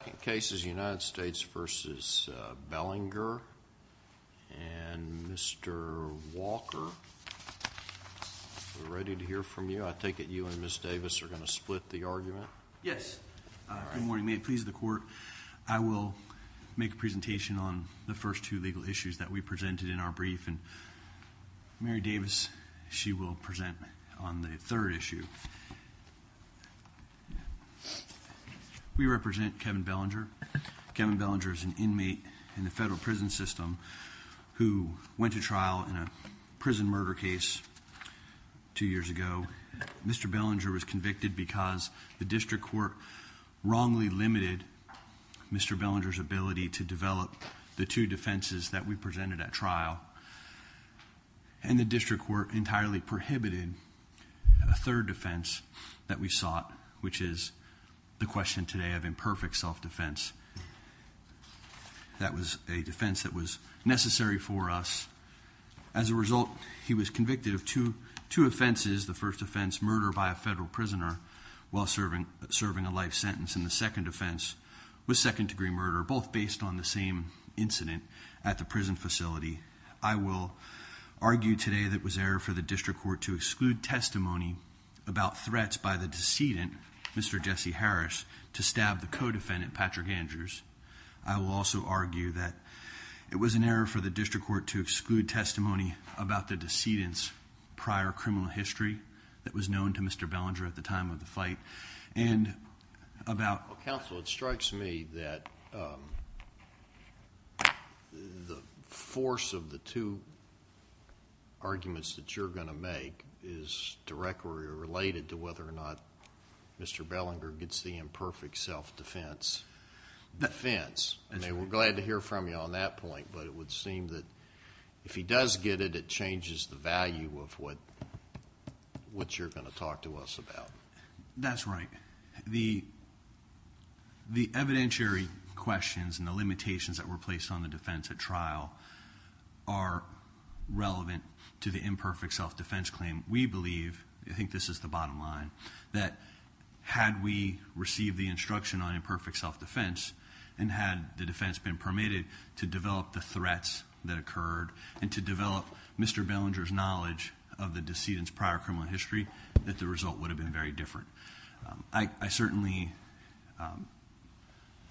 The second case is United States v. Bellinger and Mr. Walker. We're ready to hear from you. I take it you and Ms. Davis are going to split the argument? Yes. Good morning. May it please the Court, I will make a presentation on the first two legal issues that we presented in our brief, and Mary Davis, she will present on the third issue. We represent Kevin Bellinger. Kevin Bellinger is an inmate in the federal prison system who went to trial in a prison murder case two years ago. Mr. Bellinger was convicted because the district court wrongly limited Mr. Bellinger's ability to develop the two defenses that we presented at trial, and the district court entirely prohibited a third defense that we sought, which is the question today of imperfect self-defense. That was a defense that was necessary for us. As a result, he was convicted of two offenses, the first offense, murder by a federal prisoner while serving a life sentence, and the second offense was second-degree murder, both based on the same incident at the prison facility. I will argue today that it was an error for the district court to exclude testimony about threats by the decedent, Mr. Jesse Harris, to stab the co-defendant, Patrick Andrews. I will also argue that it was an error for the district court to exclude testimony about the decedent's prior criminal history that was known to Mr. Bellinger at the time of the fight. Counsel, it strikes me that the force of the two arguments that you're going to make is directly related to whether or not Mr. Bellinger gets the imperfect self-defense defense. We're glad to hear from you on that point, but it would seem that if he does get it, it changes the value of what you're going to talk to us about. That's right. The evidentiary questions and the limitations that were placed on the defense at trial are relevant to the imperfect self-defense claim. We believe, I think this is the bottom line, that had we received the instruction on imperfect self-defense and had the defense been permitted to develop the threats that occurred and to develop Mr. Bellinger's knowledge of the decedent's prior criminal history, that the result would have been very different. I certainly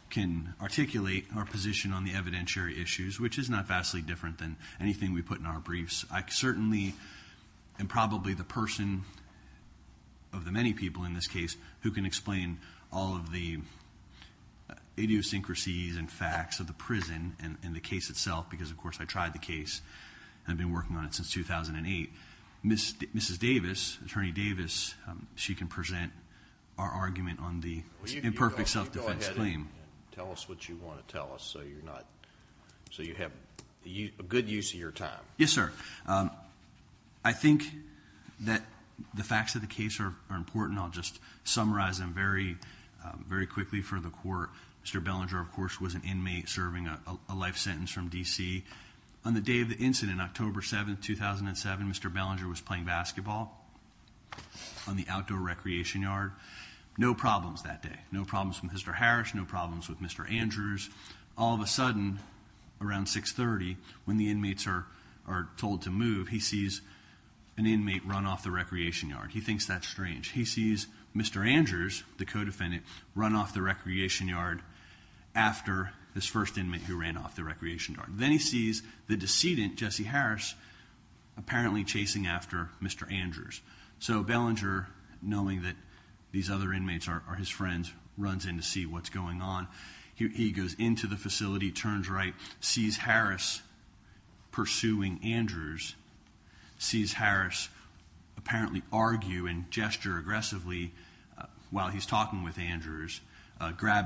can articulate our position on the evidentiary issues, which is not vastly different than anything we put in our briefs. I certainly am probably the person of the many people in this case who can explain all of the idiosyncrasies and facts of the prison and the case itself, because of course I tried the case and I've been working on it since 2008. Mrs. Davis, Attorney Davis, she can present our argument on the imperfect self-defense claim. Go ahead and tell us what you want to tell us so you have a good use of your time. Yes, sir. I think that the facts of the case are important. I'll just summarize them very quickly for the court. Mr. Bellinger, of course, was an inmate serving a life sentence from D.C. On the day of the incident, October 7, 2007, Mr. Bellinger was playing basketball on the outdoor recreation yard. No problems that day. No problems with Mr. Harris, no problems with Mr. Andrews. All of a sudden, around 6.30, when the inmates are told to move, he sees an inmate run off the recreation yard. He thinks that's strange. He sees Mr. Andrews, the co-defendant, run off the recreation yard after his first inmate who ran off the recreation yard. Then he sees the decedent, Jesse Harris, apparently chasing after Mr. Andrews. So Bellinger, knowing that these other inmates are his friends, runs in to see what's going on. He goes into the facility, turns right, sees Harris pursuing Andrews, sees Harris apparently argue and gesture aggressively while he's talking with Andrews, and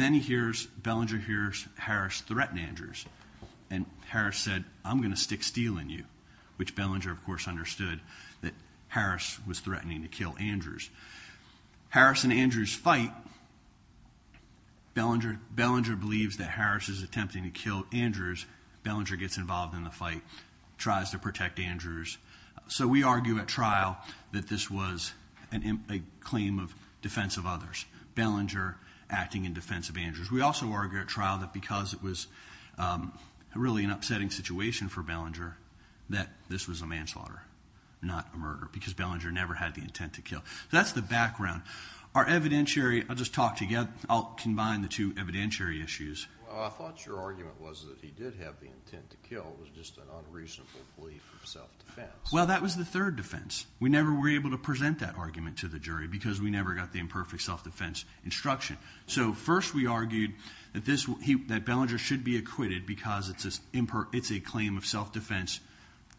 then he hears, Bellinger hears Harris threaten Andrews, and Harris said, I'm going to stick steel in you, which Bellinger, of course, understood that Harris was threatening to kill Andrews. Harris and Andrews fight. Bellinger believes that Harris is attempting to kill Andrews. Bellinger gets involved in the fight, tries to protect Andrews. So we argue at trial that this was a claim of defense of others. Bellinger acting in defense of Andrews. We also argue at trial that because it was really an upsetting situation for Bellinger, that this was a manslaughter, not a murder, because Bellinger never had the intent to kill. That's the background. Our evidentiary, I'll just talk together, I'll combine the two evidentiary issues. I thought your argument was that he did have the intent to kill. It was just an unreasonable belief of self-defense. Well, that was the third defense. We never were able to present that argument to the jury because we never got the imperfect self-defense instruction. So first we argued that Bellinger should be acquitted because it's a claim of self-defense,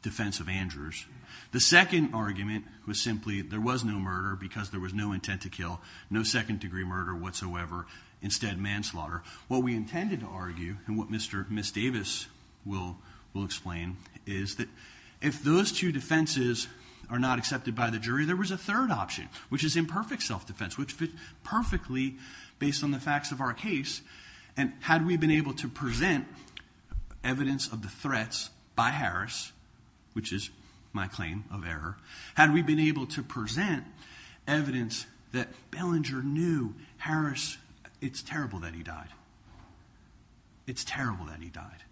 defense of Andrews. The second argument was simply there was no murder because there was no intent to kill, no second-degree murder whatsoever, instead manslaughter. What we intended to argue, and what Ms. Davis will explain, is that if those two defenses are not accepted by the jury, there was a third option, which is imperfect self-defense, which fits perfectly based on the facts of our case. Had we been able to present evidence of the threats by Harris, which is my claim of error, had we been able to present evidence that Bellinger knew Harris, it's terrible that he died. It's terrible that he died.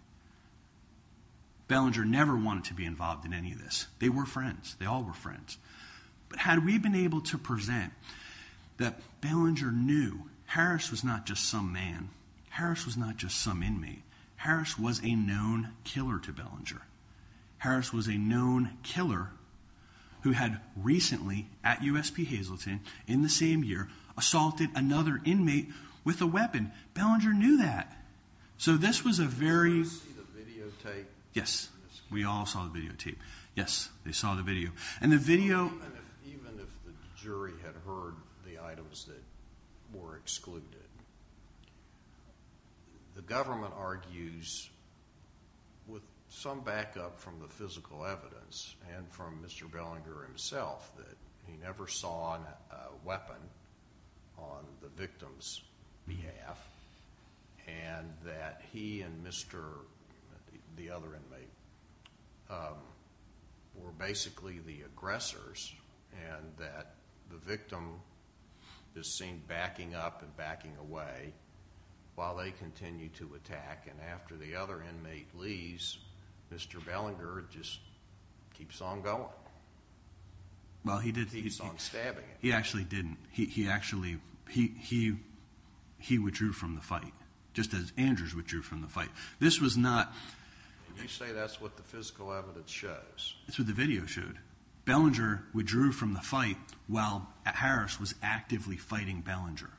Bellinger never wanted to be involved in any of this. They were friends. They all were friends. But had we been able to present that Bellinger knew Harris was not just some man. Harris was not just some inmate. Harris was a known killer to Bellinger. Harris was a known killer who had recently, at USP Hazleton, in the same year, assaulted another inmate with a weapon. Bellinger knew that. So this was a very... Did Harris see the videotape? Yes, we all saw the videotape. Yes, they saw the video. And the video... Even if the jury had heard the items that were excluded, the government argues with some backup from the physical evidence and from Mr. Bellinger himself that he never saw a weapon on the victim's behalf and that he and Mr., the other inmate, were basically the aggressors and that the victim is seen backing up and backing away while they continue to attack. And after the other inmate leaves, Mr. Bellinger just keeps on going. Well, he did. He keeps on stabbing. He actually didn't. He withdrew from the fight, just as Andrews withdrew from the fight. This was not... You say that's what the physical evidence shows. It's what the video showed. Bellinger withdrew from the fight while Harris was actively fighting Bellinger.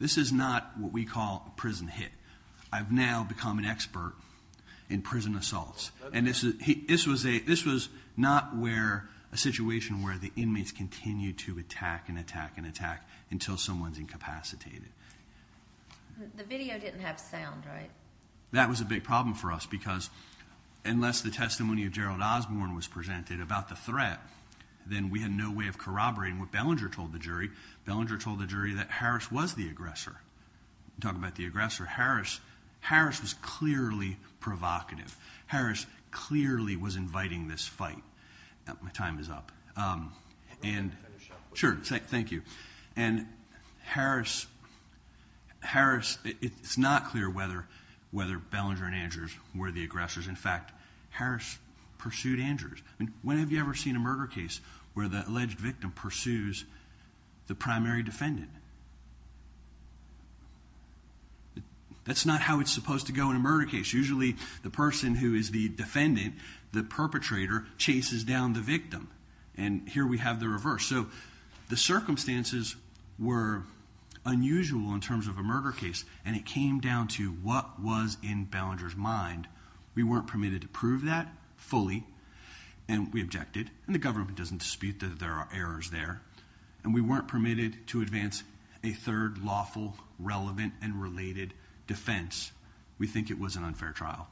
This is not what we call a prison hit. I've now become an expert in prison assaults. This was not a situation where the inmates continued to attack and attack and attack until someone's incapacitated. The video didn't have sound, right? That was a big problem for us because unless the testimony of Gerald Osborne was presented about the threat, then we had no way of corroborating what Bellinger told the jury. Bellinger told the jury that Harris was the aggressor. Talk about the aggressor. Harris was clearly provocative. Harris clearly was inviting this fight. My time is up. Sure, thank you. And Harris... It's not clear whether Bellinger and Andrews were the aggressors. In fact, Harris pursued Andrews. When have you ever seen a murder case where the alleged victim pursues the primary defendant? That's not how it's supposed to go in a murder case. Usually the person who is the defendant, the perpetrator, chases down the victim. And here we have the reverse. So the circumstances were unusual in terms of a murder case, and it came down to what was in Bellinger's mind. We weren't permitted to prove that fully, and we objected. And the government doesn't dispute that there are errors there. And we weren't permitted to advance a third lawful, relevant, and related defense. We think it was an unfair trial.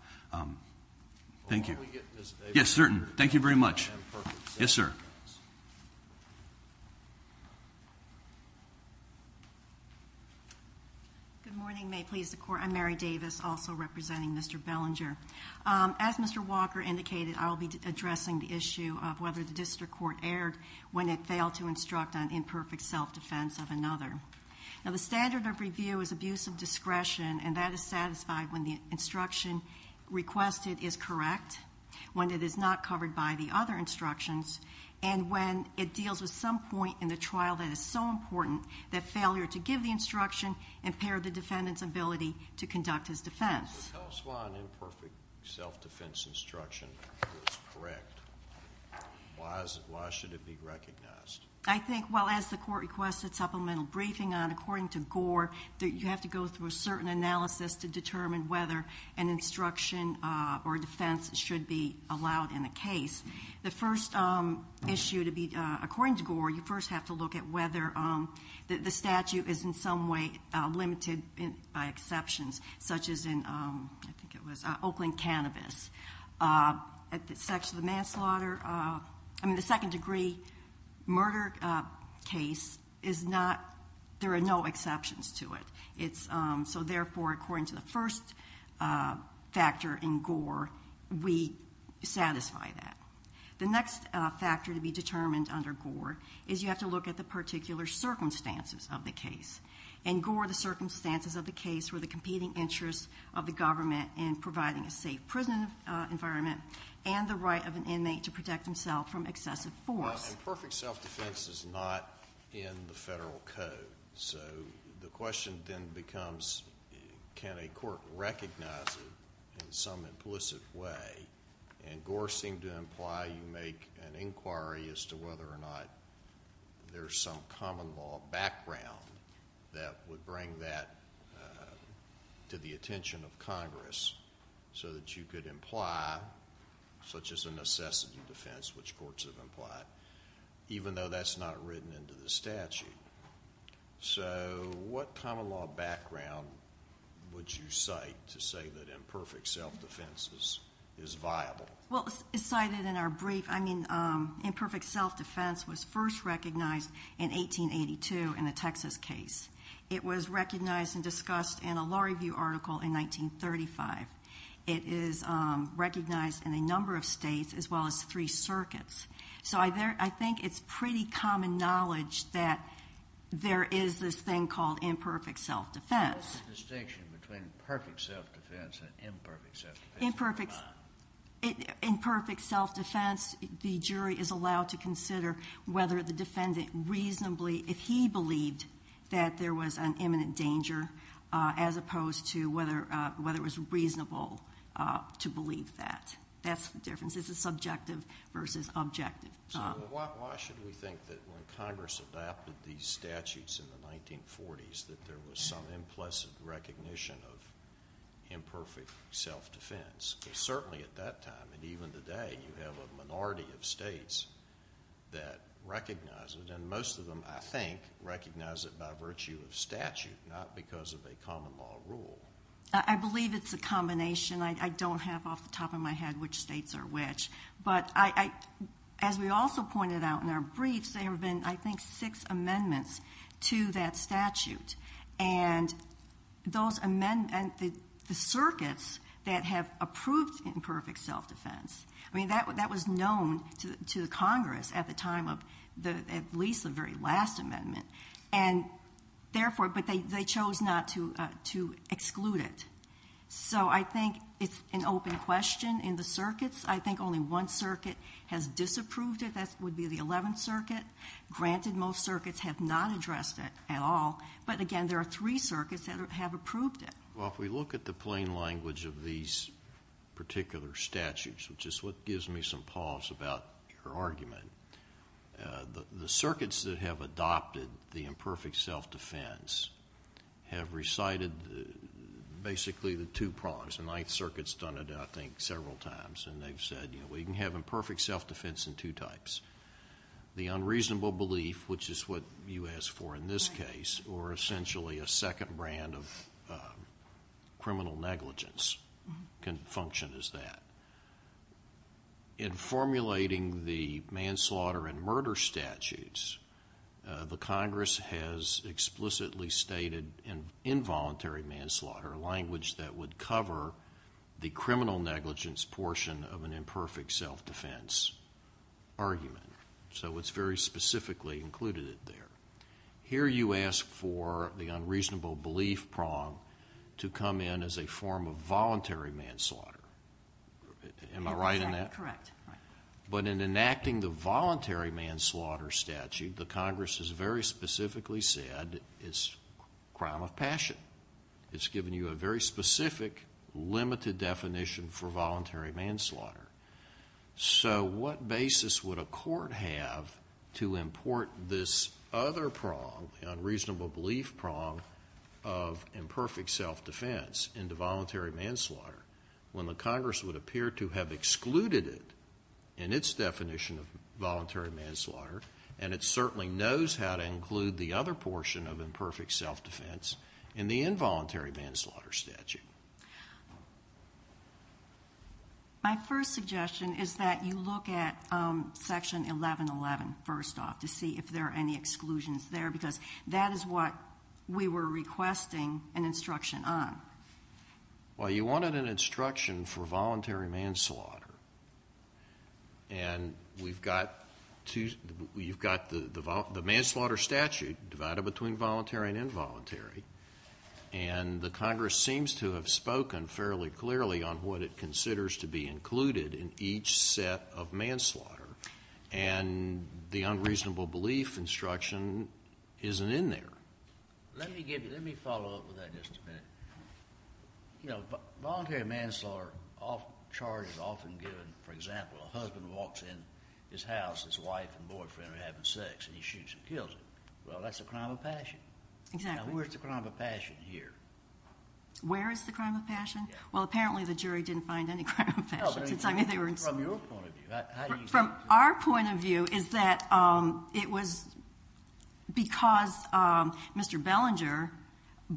Thank you. Yes, sir. Thank you very much. Yes, sir. Good morning. May it please the Court. I'm Mary Davis, also representing Mr. Bellinger. As Mr. Walker indicated, I will be addressing the issue of whether the district court erred when it failed to instruct on imperfect self-defense of another. Now the standard of review is abuse of discretion, and that is satisfied when the instruction requested is correct, when it is not covered by the other instructions, and when it deals with some point in the trial that is so important that failure to give the instruction impaired the defendant's ability to conduct his defense. So tell us why an imperfect self-defense instruction was correct. Why should it be recognized? I think, well, as the Court requested supplemental briefing on, according to Gore, that you have to go through a certain analysis to determine whether an instruction or defense should be allowed in a case. The first issue to be, according to Gore, you first have to look at whether the statute is in some way limited by exceptions, such as in, I think it was Oakland Cannabis. At the sex of the manslaughter, I mean the second degree murder case, there are no exceptions to it. So therefore, according to the first factor in Gore, we satisfy that. The next factor to be determined under Gore is you have to look at the particular circumstances of the case. In Gore, the circumstances of the case were the competing interests of the government in providing a safe prison environment and the right of an inmate to protect himself from excessive force. Now, imperfect self-defense is not in the federal code. So the question then becomes can a court recognize it in some implicit way? And Gore seemed to imply you make an inquiry as to whether or not there's some common law background that would bring that to the attention of Congress so that you could imply such as a necessity defense, which courts have implied, even though that's not written into the statute. So what common law background would you cite to say that imperfect self-defense is viable? Well, it's cited in our brief. Imperfect self-defense was first recognized in 1882 in the Texas case. It was recognized and discussed in a Law Review article in 1935. It is recognized in a number of states as well as three circuits. So I think it's pretty common knowledge that there is this thing called imperfect self-defense. What's the distinction between perfect self-defense and imperfect self-defense? Imperfect self-defense, the jury is allowed to consider whether the defendant reasonably, if he believed that there was an imminent danger as opposed to whether it was reasonable to believe that. That's the difference. This is subjective versus objective. So why should we think that when Congress adopted these statutes in the 1940s that there was some implicit recognition of imperfect self-defense? Certainly at that time, and even today, you have a minority of states that recognize it, and most of them, I think, recognize it by virtue of statute, not because of a common law rule. I believe it's a combination. I don't have off the top of my head which states are which. But as we also pointed out in our briefs, there have been, I think, six amendments to that statute, and the circuits that have approved imperfect self-defense, that was known to Congress at the time of at least the very last amendment, but they chose not to exclude it. So I think it's an open question in the circuits. I think only one circuit has disapproved it. That would be the Eleventh Circuit. Granted, most circuits have not addressed it at all, but, again, there are three circuits that have approved it. Well, if we look at the plain language of these particular statutes, which is what gives me some pause about your argument, the circuits that have adopted the imperfect self-defense have recited basically the two prongs. The Ninth Circuit has done it, I think, several times, and they've said we can have imperfect self-defense in two types. The unreasonable belief, which is what you asked for in this case, or essentially a second brand of criminal negligence can function as that. In formulating the manslaughter and murder statutes, the Congress has explicitly stated involuntary manslaughter, a language that would cover the criminal negligence portion of an imperfect self-defense argument. So it's very specifically included there. Here you ask for the unreasonable belief prong to come in as a form of voluntary manslaughter. Am I right in that? Correct. But in enacting the voluntary manslaughter statute, the Congress has very specifically said it's a crime of passion. It's given you a very specific, limited definition for voluntary manslaughter. So what basis would a court have to import this other prong, the unreasonable belief prong of imperfect self-defense into voluntary manslaughter when the Congress would appear to have excluded it in its definition of voluntary manslaughter, and it certainly knows how to include the other portion of imperfect self-defense in the involuntary manslaughter statute. My first suggestion is that you look at Section 1111 first off to see if there are any exclusions there because that is what we were requesting an instruction on. Well, you wanted an instruction for voluntary manslaughter, and you've got the manslaughter statute divided between voluntary and involuntary, and the Congress seems to have spoken fairly clearly on what it considers to be included in each set of manslaughter, and the unreasonable belief instruction isn't in there. Let me follow up with that just a minute. Voluntary manslaughter charges are often given, for example, a husband walks in his house, his wife and boyfriend are having sex, and he shoots and kills them. Well, that's a crime of passion. Exactly. Now where's the crime of passion here? Where is the crime of passion? Well, apparently the jury didn't find any crime of passion. No, but from your point of view. From our point of view is that it was because Mr. Bellinger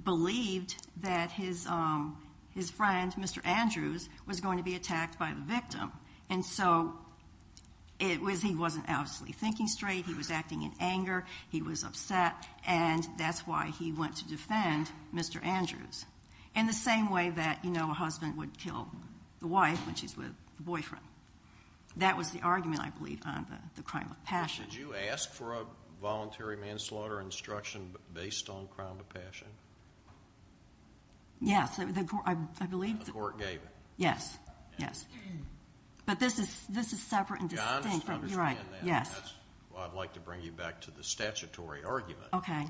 believed that his friend, Mr. Andrews, was going to be attacked by the victim, and so he wasn't obviously thinking straight. He was acting in anger. He was upset, and that's why he went to defend Mr. Andrews in the same way that a husband would kill the wife when she's with the boyfriend. That was the argument, I believe, on the crime of passion. Would you ask for a voluntary manslaughter instruction based on crime of passion? Yes, I believe. The court gave it. Yes, yes. But this is separate and distinct. I understand that. That's why I'd like to bring you back to the statutory argument. Okay.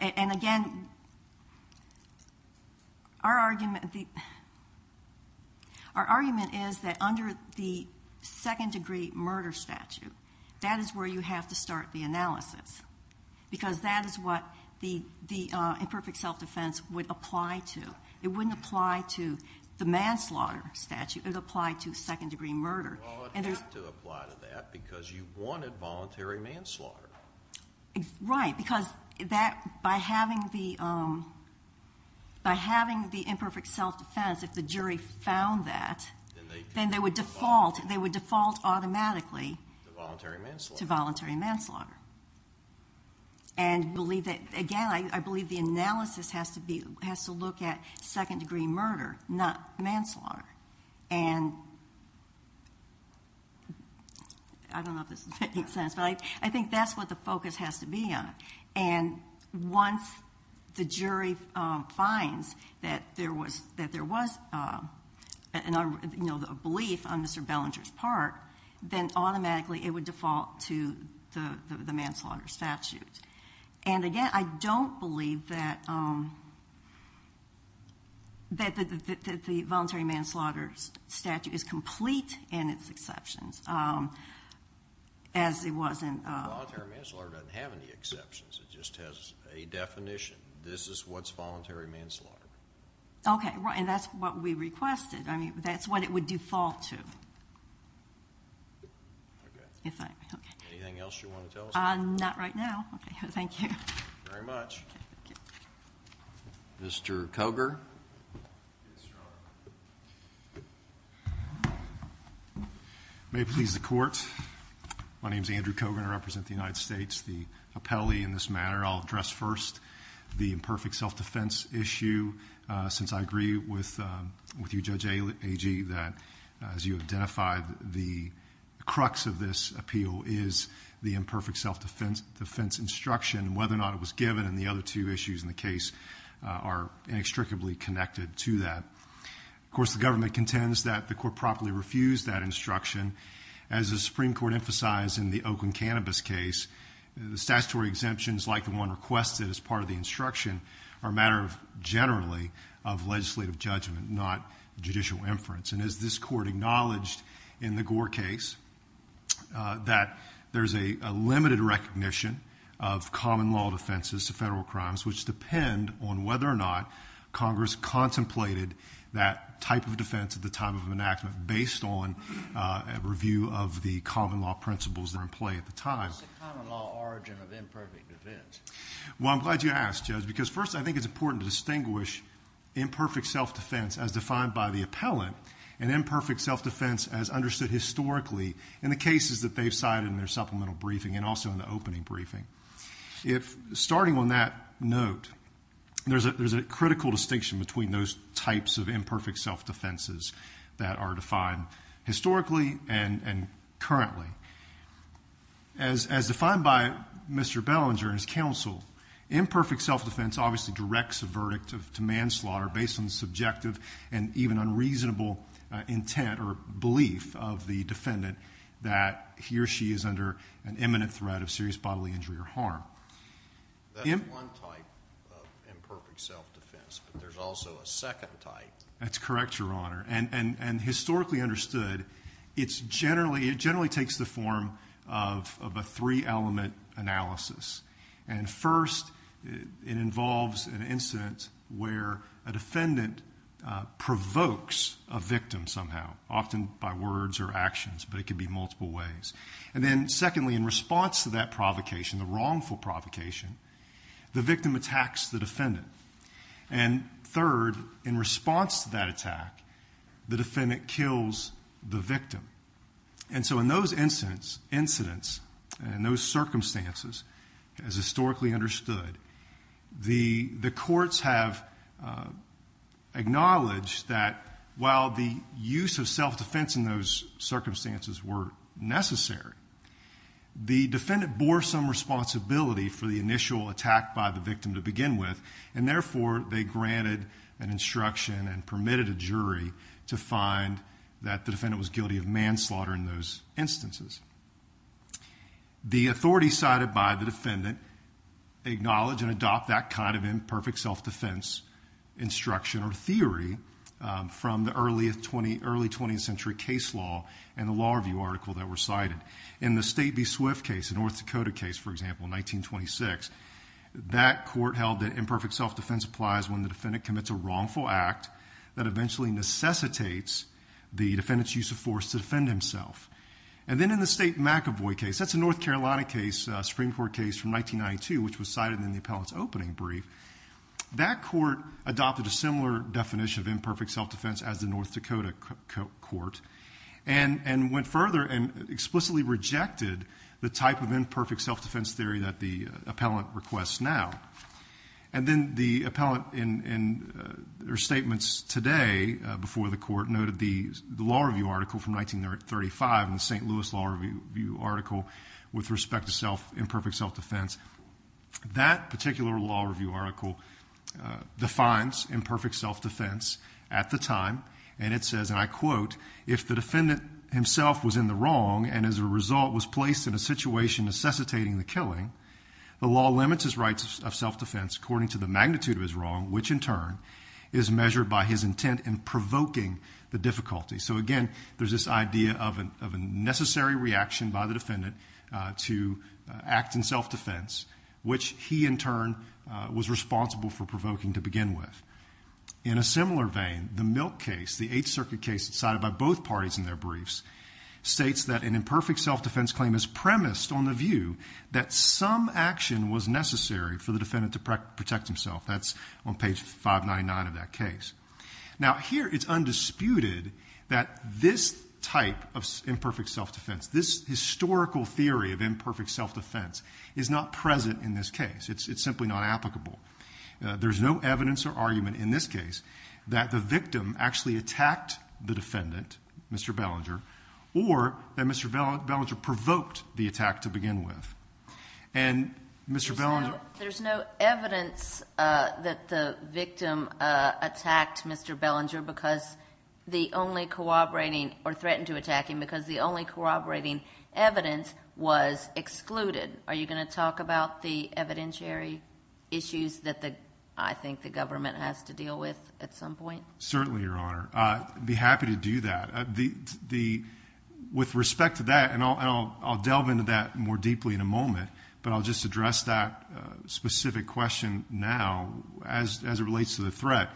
Again, our argument is that under the second-degree murder statute, that is where you have to start the analysis because that is what the imperfect self-defense would apply to. It wouldn't apply to the manslaughter statute. It would apply to second-degree murder. Well, it would have to apply to that because you wanted voluntary manslaughter. Right, because by having the imperfect self-defense, if the jury found that, then they would default automatically to voluntary manslaughter. Again, I believe the analysis has to look at second-degree murder, not manslaughter. I don't know if this is making sense, but I think that's what the focus has to be on. Once the jury finds that there was a belief on Mr. Bellinger's part, then automatically it would default to the manslaughter statute. Again, I don't believe that the voluntary manslaughter statute is complete in its exceptions, as it wasn't. Voluntary manslaughter doesn't have any exceptions. It just has a definition. This is what's voluntary manslaughter. Okay, and that's what we requested. I mean, that's what it would default to. Anything else you want to tell us? Not right now. Okay, thank you. Thank you very much. Mr. Cogar. May it please the Court. My name is Andrew Cogar, and I represent the United States. The appellee in this matter, I'll address first. The imperfect self-defense issue, since I agree with you, Judge Agee, that, as you identified, the crux of this appeal is the imperfect self-defense instruction, whether or not it was given and the other two issues in the case are inextricably connected to that. Of course, the government contends that the Court properly refused that instruction. As the Supreme Court emphasized in the Oakland Cannabis case, statutory exemptions, like the one requested as part of the instruction, are a matter generally of legislative judgment, not judicial inference. And as this Court acknowledged in the Gore case, that there's a limited recognition of common law defenses to federal crimes, which depend on whether or not Congress contemplated that type of defense at the time of enactment based on a review of the common law principles that were in play at the time. What's the common law origin of imperfect defense? Well, I'm glad you asked, Judge, because first I think it's important to distinguish imperfect self-defense as defined by the appellant and imperfect self-defense as understood historically in the cases that they've cited in their supplemental briefing and also in the opening briefing. Starting on that note, there's a critical distinction between those types of imperfect self-defenses that are defined historically and currently. As defined by Mr. Bellinger and his counsel, imperfect self-defense obviously directs a verdict to manslaughter based on the subjective and even unreasonable intent or belief of the defendant that he or she is under an imminent threat of serious bodily injury or harm. That's one type of imperfect self-defense, but there's also a second type. That's correct, Your Honor. Historically understood, it generally takes the form of a three-element analysis. First, it involves an incident where a defendant provokes a victim somehow, often by words or actions, but it can be multiple ways. Secondly, in response to that provocation, the wrongful provocation, the victim attacks the defendant. Third, in response to that attack, the defendant kills the victim. In those incidents and those circumstances, as historically understood, the courts have acknowledged that while the use of self-defense in those circumstances were necessary, the defendant bore some responsibility for the initial attack by the victim to begin with and therefore they granted an instruction and permitted a jury to find that the defendant was guilty of manslaughter in those instances. The authorities cited by the defendant acknowledge and adopt that kind of imperfect self-defense instruction or theory from the early 20th century case law and the law review article that were cited. In the State v. Swift case, the North Dakota case, for example, in 1926, that court held that imperfect self-defense applies when the defendant commits a wrongful act that eventually necessitates the defendant's use of force to defend himself. And then in the State v. McEvoy case, that's a North Carolina Supreme Court case from 1992, which was cited in the appellant's opening brief, that court adopted a similar definition of imperfect self-defense as the North Dakota court and went further and explicitly rejected the type of imperfect self-defense theory that the appellant requests now. And then the appellant in her statements today before the court noted the law review article from 1935 in the St. Louis Law Review article with respect to imperfect self-defense. That particular law review article defines imperfect self-defense at the time, and it says, and I quote, if the defendant himself was in the wrong and as a result was placed in a situation necessitating the killing, the law limits his rights of self-defense according to the magnitude of his wrong, which in turn is measured by his intent in provoking the difficulty. So again, there's this idea of a necessary reaction by the defendant to act in self-defense, which he in turn was responsible for provoking to begin with. In a similar vein, the Milk case, the Eighth Circuit case cited by both parties in their briefs, states that an imperfect self-defense claim is premised on the view that some action was necessary for the defendant to protect himself. That's on page 599 of that case. Now here it's undisputed that this type of imperfect self-defense, this historical theory of imperfect self-defense is not present in this case. It's simply not applicable. There's no evidence or argument in this case that the victim actually attacked the defendant, Mr. Bellinger, or that Mr. Bellinger provoked the attack to begin with. And Mr. Bellinger... There's no evidence that the victim attacked Mr. Bellinger because the only corroborating or threatened to attack him because the only corroborating evidence was excluded. Are you going to talk about the evidentiary issues that I think the government has to deal with at some point? Certainly, Your Honor. I'd be happy to do that. With respect to that, and I'll delve into that more deeply in a moment, but I'll just address that specific question now as it relates to the threat.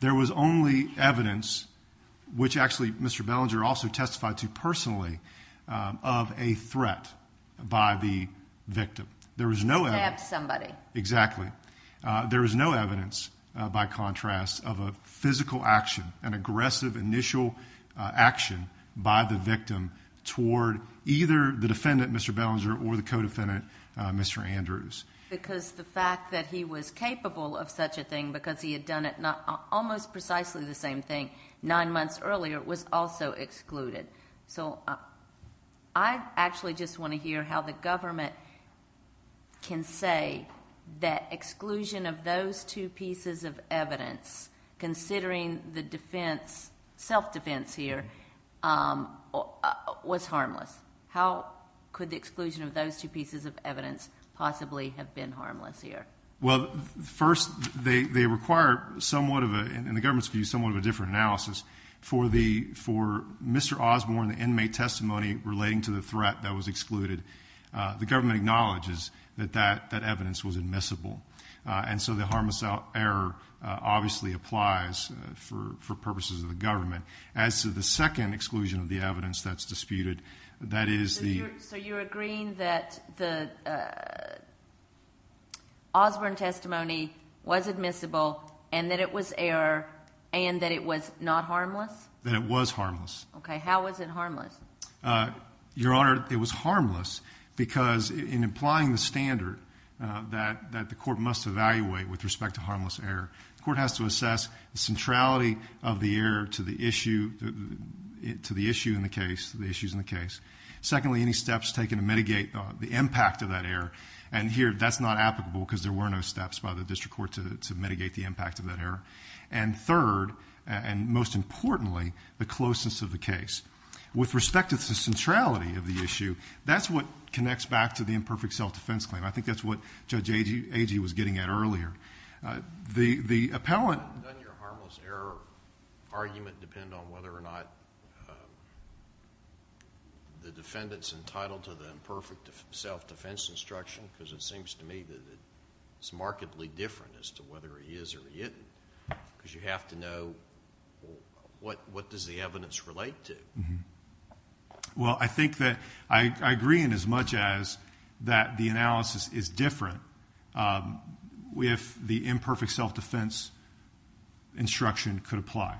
There was only evidence, which actually Mr. Bellinger also testified to personally, of a threat by the victim. There was no evidence. He stabbed somebody. Exactly. There was no evidence, by contrast, of a physical action, an aggressive initial action by the victim toward either the defendant, Mr. Bellinger, or the co-defendant, Mr. Andrews. Because the fact that he was capable of such a thing because he had done it almost precisely the same thing nine months earlier was also excluded. So I actually just want to hear how the government can say that exclusion of those two pieces of evidence, considering the self-defense here, was harmless. How could the exclusion of those two pieces of evidence possibly have been harmless here? Well, first, they require somewhat of a, in the government's view, somewhat of a different analysis. For Mr. Osborne, the inmate testimony relating to the threat that was excluded, the government acknowledges that that evidence was admissible. And so the harmless error obviously applies for purposes of the government. As to the second exclusion of the evidence that's disputed, that is the ---- So Mr. Osborne's testimony was admissible and that it was error and that it was not harmless? That it was harmless. Okay. How was it harmless? Your Honor, it was harmless because in applying the standard that the court must evaluate with respect to harmless error, the court has to assess the centrality of the error to the issue in the case, the issues in the case. Secondly, any steps taken to mitigate the impact of that error. And here, that's not applicable because there were no steps by the district court to mitigate the impact of that error. And third, and most importantly, the closeness of the case. With respect to the centrality of the issue, that's what connects back to the imperfect self-defense claim. I think that's what Judge Agee was getting at earlier. The appellant ---- Does your harmless error argument depend on whether or not the defendant's entitled to the imperfect self-defense instruction? Because it seems to me that it's markedly different as to whether he is or he isn't. Because you have to know what does the evidence relate to. Well, I think that I agree in as much as that the analysis is different if the imperfect self-defense instruction could apply.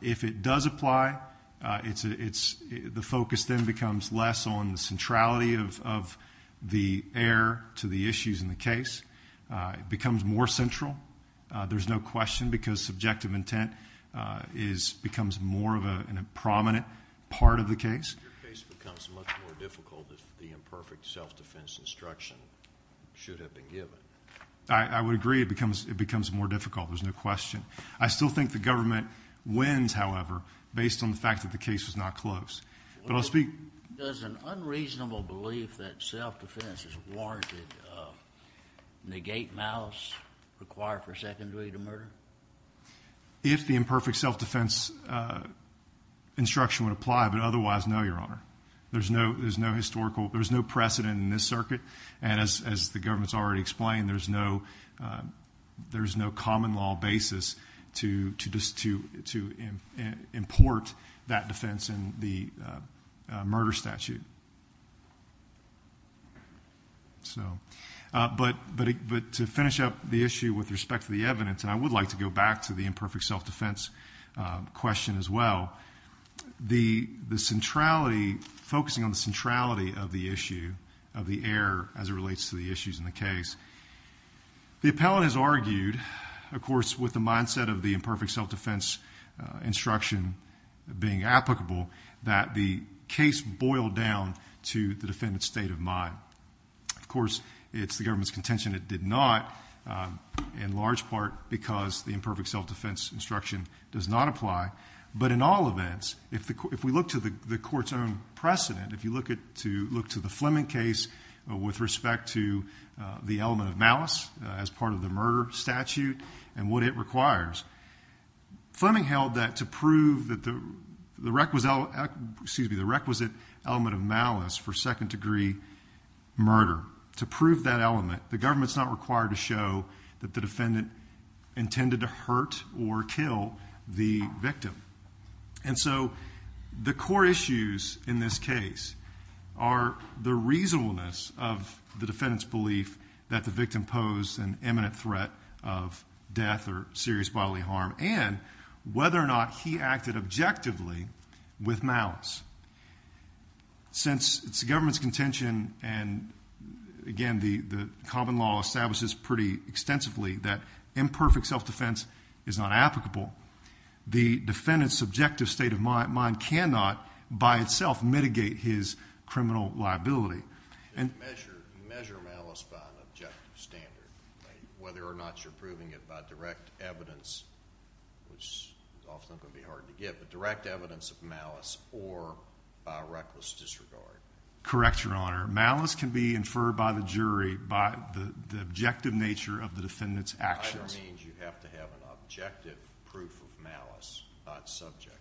If it does apply, the focus then becomes less on the centrality of the error to the issues in the case. It becomes more central. There's no question because subjective intent becomes more of a prominent part of the case. Your case becomes much more difficult if the imperfect self-defense instruction should have been given. I would agree it becomes more difficult. There's no question. I still think the government wins, however, based on the fact that the case was not close. Does an unreasonable belief that self-defense is warranted negate malice required for secondary to murder? If the imperfect self-defense instruction would apply, but otherwise, no, Your Honor. There's no historical precedent in this circuit. And as the government's already explained, there's no common law basis to import that defense in the murder statute. But to finish up the issue with respect to the evidence, and I would like to go back to the imperfect self-defense question as well, the centrality, focusing on the centrality of the issue, of the error as it relates to the issues in the case. The appellant has argued, of course, with the mindset of the imperfect self-defense instruction being applicable, that the case boiled down to the defendant's state of mind. Of course, it's the government's contention it did not, in large part because the imperfect self-defense instruction does not apply. But in all events, if we look to the court's own precedent, if you look to the Fleming case with respect to the element of malice as part of the murder statute and what it requires, Fleming held that to prove that the requisite element of malice for second-degree murder, to prove that element, the government's not required to show that the defendant intended to hurt or kill the victim. And so the core issues in this case are the reasonableness of the defendant's belief that the victim posed an imminent threat of death or serious bodily harm and whether or not he acted objectively with malice. Since it's the government's contention and, again, the common law establishes pretty extensively that imperfect self-defense is not applicable, the defendant's subjective state of mind cannot, by itself, mitigate his criminal liability. Measure malice by an objective standard, whether or not you're proving it by direct evidence, which is often going to be hard to get, but direct evidence of malice or by reckless disregard. Correct, Your Honor. Malice can be inferred by the jury by the objective nature of the defendant's actions. Either means you have to have an objective proof of malice, not subjective.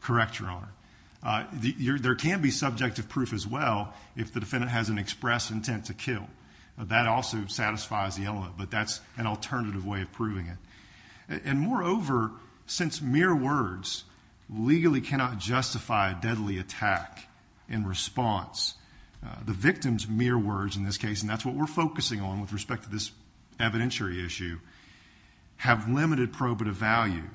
Correct, Your Honor. There can be subjective proof as well if the defendant has an express intent to kill. That also satisfies the element, but that's an alternative way of proving it. And, moreover, since mere words legally cannot justify a deadly attack in response, the victim's mere words in this case, and that's what we're focusing on with respect to this evidentiary issue, have limited probative value.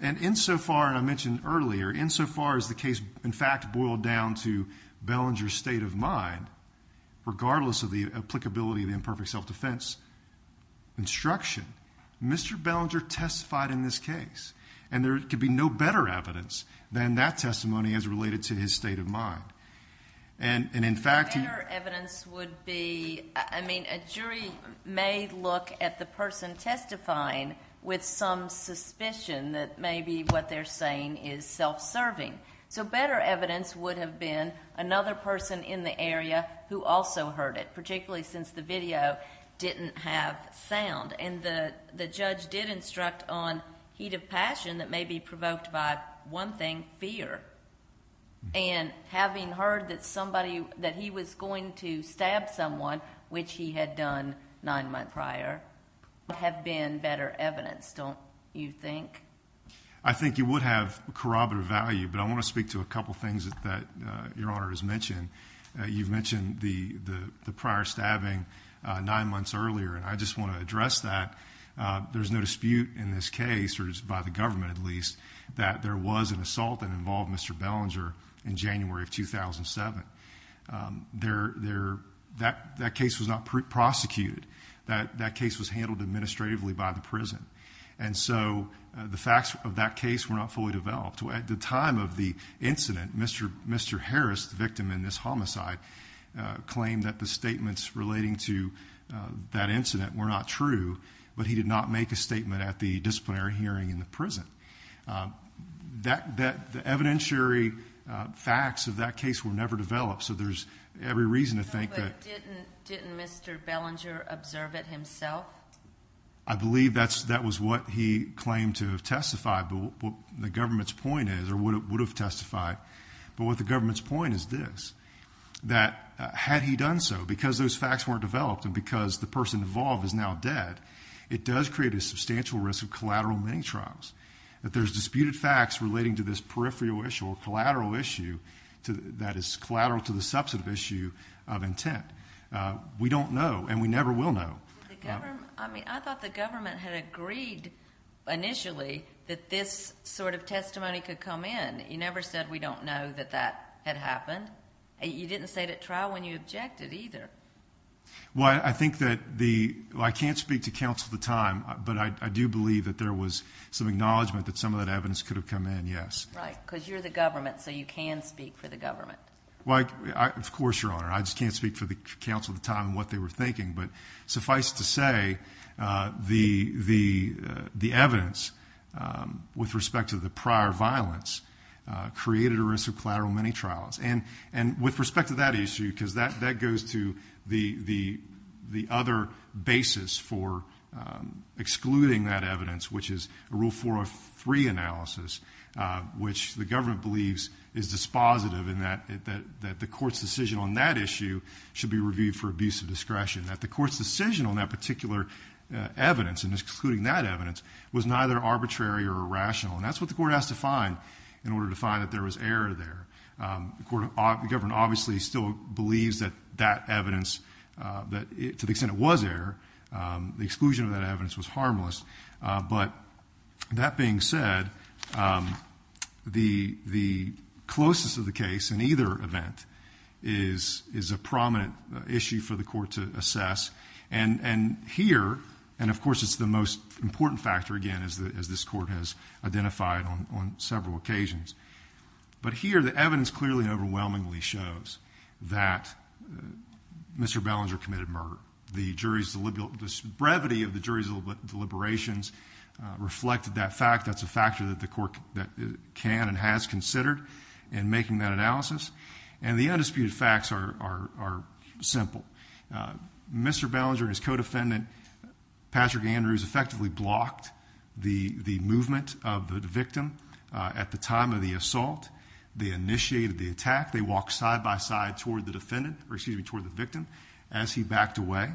And insofar, and I mentioned earlier, insofar as the case, in fact, boiled down to Bellinger's state of mind, regardless of the applicability of the imperfect self-defense instruction, Mr. Bellinger testified in this case. And there could be no better evidence than that testimony as related to his state of mind. And, in fact, he... Better evidence would be, I mean, a jury may look at the person testifying with some suspicion that maybe what they're saying is self-serving. So better evidence would have been another person in the area who also heard it, particularly since the video didn't have sound. And the judge did instruct on heat of passion that may be provoked by, one thing, fear. And having heard that somebody, that he was going to stab someone, which he had done nine months prior, would have been better evidence, don't you think? I think it would have corroborative value, but I want to speak to a couple things that Your Honor has mentioned. You've mentioned the prior stabbing nine months earlier, and I just want to address that. There's no dispute in this case, or by the government at least, that there was an assault that involved Mr. Bellinger in January of 2007. That case was not prosecuted. And so the facts of that case were not fully developed. At the time of the incident, Mr. Harris, the victim in this homicide, claimed that the statements relating to that incident were not true, but he did not make a statement at the disciplinary hearing in the prison. The evidentiary facts of that case were never developed, so there's every reason to think that... No, but didn't Mr. Bellinger observe it himself? I believe that was what he claimed to have testified, but what the government's point is, or would have testified, but what the government's point is this, that had he done so, because those facts weren't developed, and because the person involved is now dead, it does create a substantial risk of collateral mini-trials, that there's disputed facts relating to this peripheral issue or collateral issue that is collateral to the substantive issue of intent. We don't know, and we never will know. The government, I mean, I thought the government had agreed initially that this sort of testimony could come in. You never said we don't know that that had happened. You didn't say at trial when you objected either. Well, I think that the, well, I can't speak to counsel at the time, but I do believe that there was some acknowledgement that some of that evidence could have come in, yes. Right, because you're the government, so you can speak for the government. Well, of course, Your Honor. I just can't speak for the counsel at the time and what they were thinking, but suffice to say the evidence with respect to the prior violence created a risk of collateral mini-trials. And with respect to that issue, because that goes to the other basis for excluding that evidence, which is a Rule 403 analysis, which the government believes is dispositive in that the court's decision on that issue should be reviewed for abuse of discretion, that the court's decision on that particular evidence and excluding that evidence was neither arbitrary or irrational. And that's what the court has to find in order to find that there was error there. The government obviously still believes that that evidence, to the extent it was error, the exclusion of that evidence was harmless. But that being said, the closest of the case in either event is a prominent issue for the court to assess. And here, and of course it's the most important factor, again, as this court has identified on several occasions, but here the evidence clearly and overwhelmingly shows that Mr. Ballinger committed murder. The brevity of the jury's deliberations reflected that fact. That's a factor that the court can and has considered in making that analysis. And the undisputed facts are simple. Mr. Ballinger and his co-defendant, Patrick Andrews, effectively blocked the movement of the victim at the time of the assault. They initiated the attack. They walked side by side toward the victim as he backed away.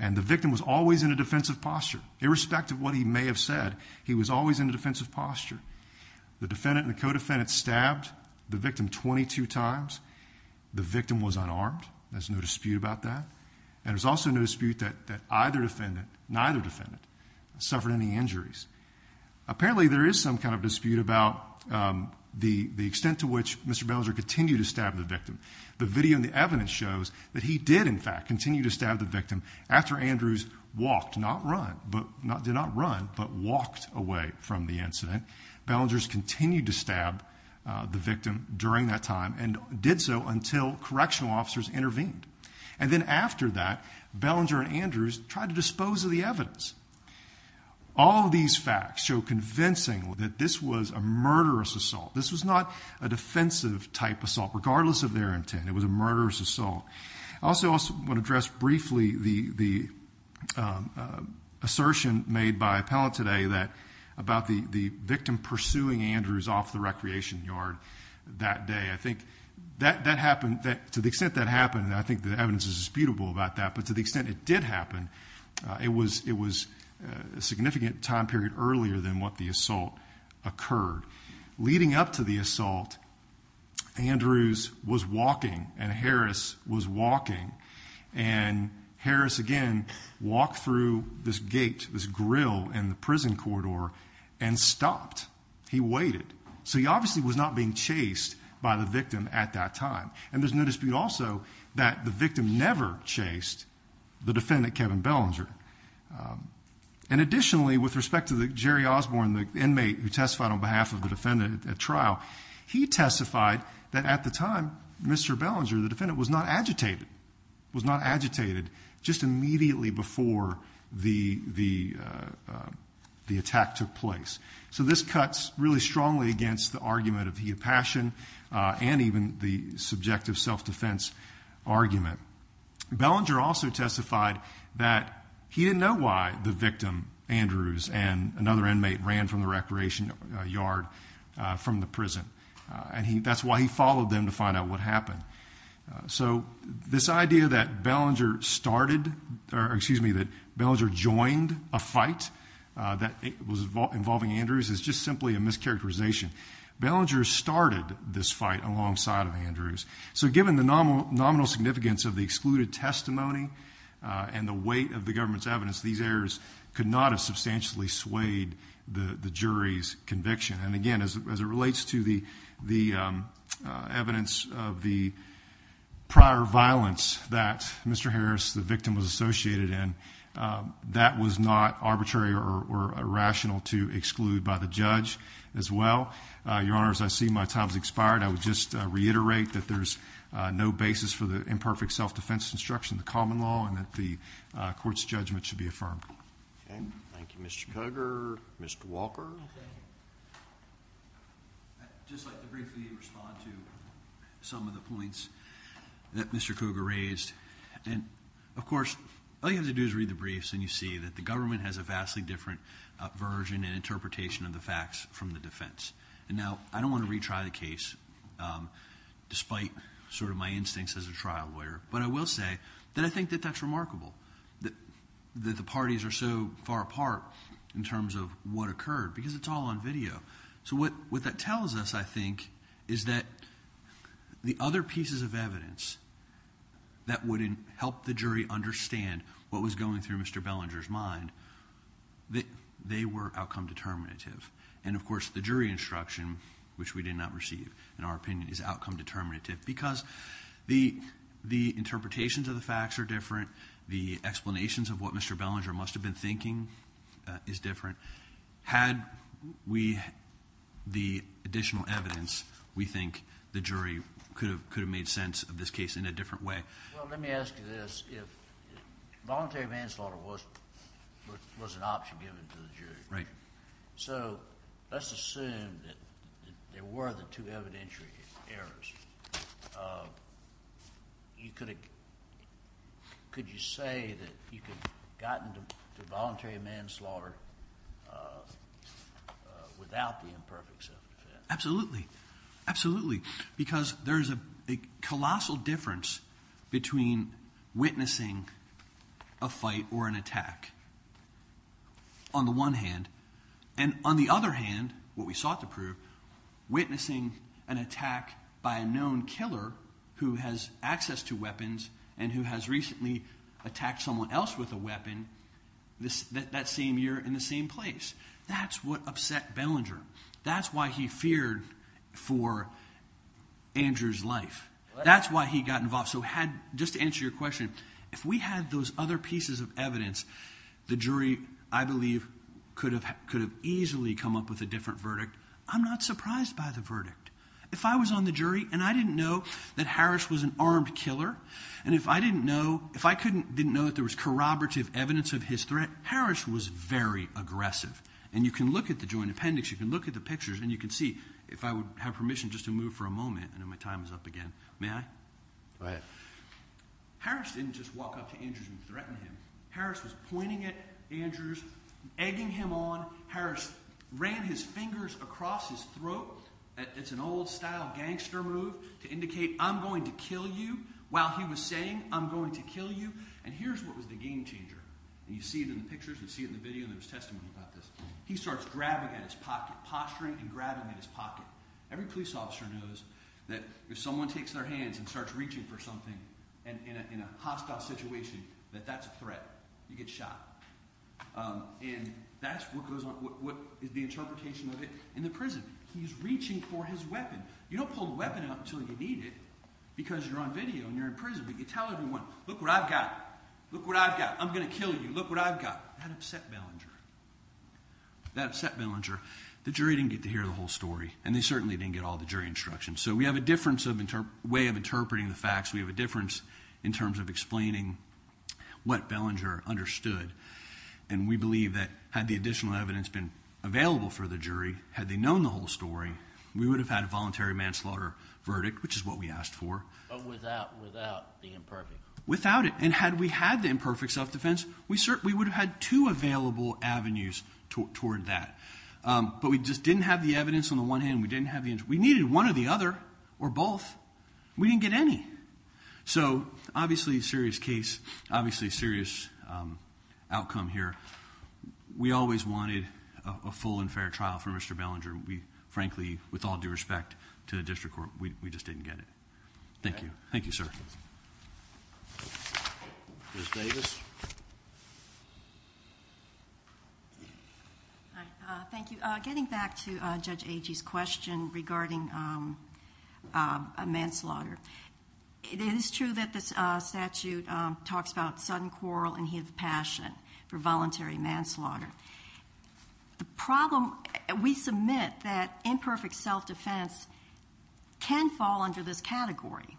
And the victim was always in a defensive posture. Irrespective of what he may have said, he was always in a defensive posture. The defendant and the co-defendant stabbed the victim 22 times. The victim was unarmed. There's no dispute about that. And there's also no dispute that either defendant, neither defendant, suffered any injuries. Apparently there is some kind of dispute about the extent to which Mr. Ballinger continued to stab the victim. The video and the evidence shows that he did, in fact, continue to stab the victim after Andrews walked, not run, did not run, but walked away from the incident. Ballinger continued to stab the victim during that time and did so until correctional officers intervened. And then after that, Ballinger and Andrews tried to dispose of the evidence. All of these facts show convincingly that this was a murderous assault. This was not a defensive type assault, regardless of their intent. It was a murderous assault. I also want to address briefly the assertion made by appellant today about the victim pursuing Andrews off the recreation yard that day. I think that happened, to the extent that happened, I think the evidence is disputable about that. But to the extent it did happen, it was a significant time period earlier than what the assault occurred. Leading up to the assault, Andrews was walking and Harris was walking. And Harris, again, walked through this gate, this grill in the prison corridor and stopped. He waited. So he obviously was not being chased by the victim at that time. And there's no dispute also that the victim never chased the defendant, Kevin Ballinger. And additionally, with respect to Jerry Osborne, the inmate who testified on behalf of the defendant at trial, he testified that at the time, Mr. Ballinger, the defendant, was not agitated, was not agitated just immediately before the attack took place. So this cuts really strongly against the argument of heat of passion and even the subjective self-defense argument. Ballinger also testified that he didn't know why the victim, Andrews, and another inmate ran from the recreation yard from the prison. And that's why he followed them to find out what happened. So this idea that Ballinger started, or excuse me, that Ballinger joined a fight that was involving Andrews is just simply a mischaracterization. Ballinger started this fight alongside of Andrews. So given the nominal significance of the excluded testimony and the weight of the government's evidence, these errors could not have substantially swayed the jury's conviction. And again, as it relates to the evidence of the prior violence that Mr. Harris, the victim, was associated in, that was not arbitrary or irrational to exclude by the judge as well. Your Honor, as I see my time has expired, I would just reiterate that there's no basis for the imperfect self-defense instruction, the common law, and that the court's judgment should be affirmed. Thank you, Mr. Cougar. Mr. Walker. I'd just like to briefly respond to some of the points that Mr. Cougar raised. And, of course, all you have to do is read the briefs and you see that the government has a vastly different version and interpretation of the facts from the defense. And now I don't want to retry the case, despite sort of my instincts as a trial lawyer, but I will say that I think that that's remarkable that the parties are so far apart in terms of what occurred because it's all on video. So what that tells us, I think, is that the other pieces of evidence that would help the jury understand what was going through Mr. Bellinger's mind, they were outcome determinative. And, of course, the jury instruction, which we did not receive, in our opinion, is outcome determinative because the interpretations of the facts are different, the explanations of what Mr. Bellinger must have been thinking is different. Had we the additional evidence, we think the jury could have made sense of this case in a different way. Well, let me ask you this. Voluntary manslaughter was an option given to the jury. Right. So let's assume that there were the two evidentiary errors. Could you say that you could have gotten to voluntary manslaughter without the imperfect self-defense? Absolutely, absolutely, because there is a colossal difference between witnessing a fight or an attack. On the one hand. And on the other hand, what we sought to prove, witnessing an attack by a known killer who has access to weapons and who has recently attacked someone else with a weapon that same year in the same place. That's what upset Bellinger. That's why he feared for Andrew's life. That's why he got involved. Just to answer your question, if we had those other pieces of evidence, the jury, I believe, could have easily come up with a different verdict. I'm not surprised by the verdict. If I was on the jury and I didn't know that Harris was an armed killer, and if I didn't know that there was corroborative evidence of his threat, Harris was very aggressive. And you can look at the joint appendix, you can look at the pictures, and you can see. If I would have permission just to move for a moment. I know my time is up again. May I? Go ahead. Harris didn't just walk up to Andrews and threaten him. Harris was pointing at Andrews, egging him on. Harris ran his fingers across his throat. It's an old style gangster move to indicate, I'm going to kill you, while he was saying, I'm going to kill you. And here's what was the game changer. You see it in the pictures, you see it in the video, and there's testimony about this. He starts grabbing at his pocket, posturing and grabbing at his pocket. Every police officer knows that if someone takes their hands and starts reaching for something in a hostile situation, that that's a threat. You get shot. And that's what is the interpretation of it in the prison. He's reaching for his weapon. You don't pull the weapon out until you need it, because you're on video and you're in prison. But you tell everyone, look what I've got. Look what I've got. I'm going to kill you. Look what I've got. That upset Bellinger. That upset Bellinger. The jury didn't get to hear the whole story, and they certainly didn't get all the jury instructions. So we have a different way of interpreting the facts. We have a difference in terms of explaining what Bellinger understood. And we believe that had the additional evidence been available for the jury, had they known the whole story, we would have had a voluntary manslaughter verdict, which is what we asked for. But without the imperfect. Without it. And had we had the imperfect self-defense, we would have had two available avenues toward that. But we just didn't have the evidence on the one hand. We didn't have the evidence. We needed one or the other or both. We didn't get any. So obviously a serious case. Obviously a serious outcome here. We always wanted a full and fair trial for Mr. Bellinger. We frankly, with all due respect to the district court, we just didn't get it. Thank you. Thank you, sir. Ms. Davis. Thank you. Getting back to Judge Agee's question regarding a manslaughter, it is true that this statute talks about sudden quarrel and he has a passion for voluntary manslaughter. The problem, we submit that imperfect self-defense can fall under this category.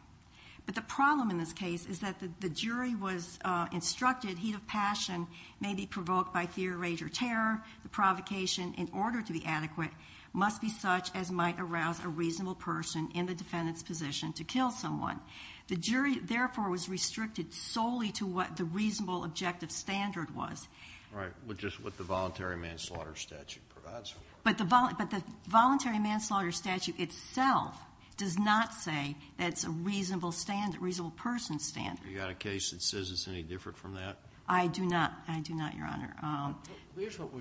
But the problem in this case is that the jury was instructed, heat of passion may be provoked by fear, rage, or terror. The provocation, in order to be adequate, must be such as might arouse a reasonable person in the defendant's position to kill someone. The jury, therefore, was restricted solely to what the reasonable objective standard was. Right. Which is what the voluntary manslaughter statute provides for. But the voluntary manslaughter statute itself does not say that it's a reasonable person standard. You got a case that says it's any different from that? I do not, Your Honor. Here's what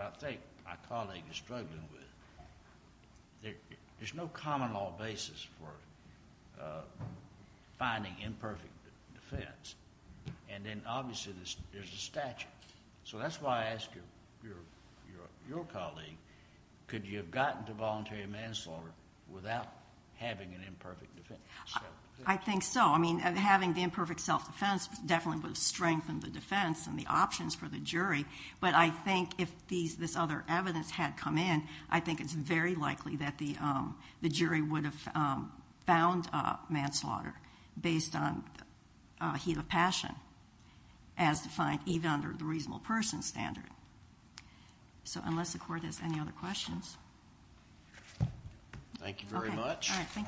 I think my colleague is struggling with. There's no common law basis for finding imperfect defense. And then, obviously, there's a statute. Right. So that's why I ask your colleague, could you have gotten to voluntary manslaughter without having an imperfect defense? I think so. I mean, having the imperfect self-defense definitely would have strengthened the defense and the options for the jury. But I think if this other evidence had come in, I think it's very likely that the jury would have found manslaughter based on heat of passion as defined even under the reasonable person standard. So unless the Court has any other questions. Thank you very much. All right, thank you.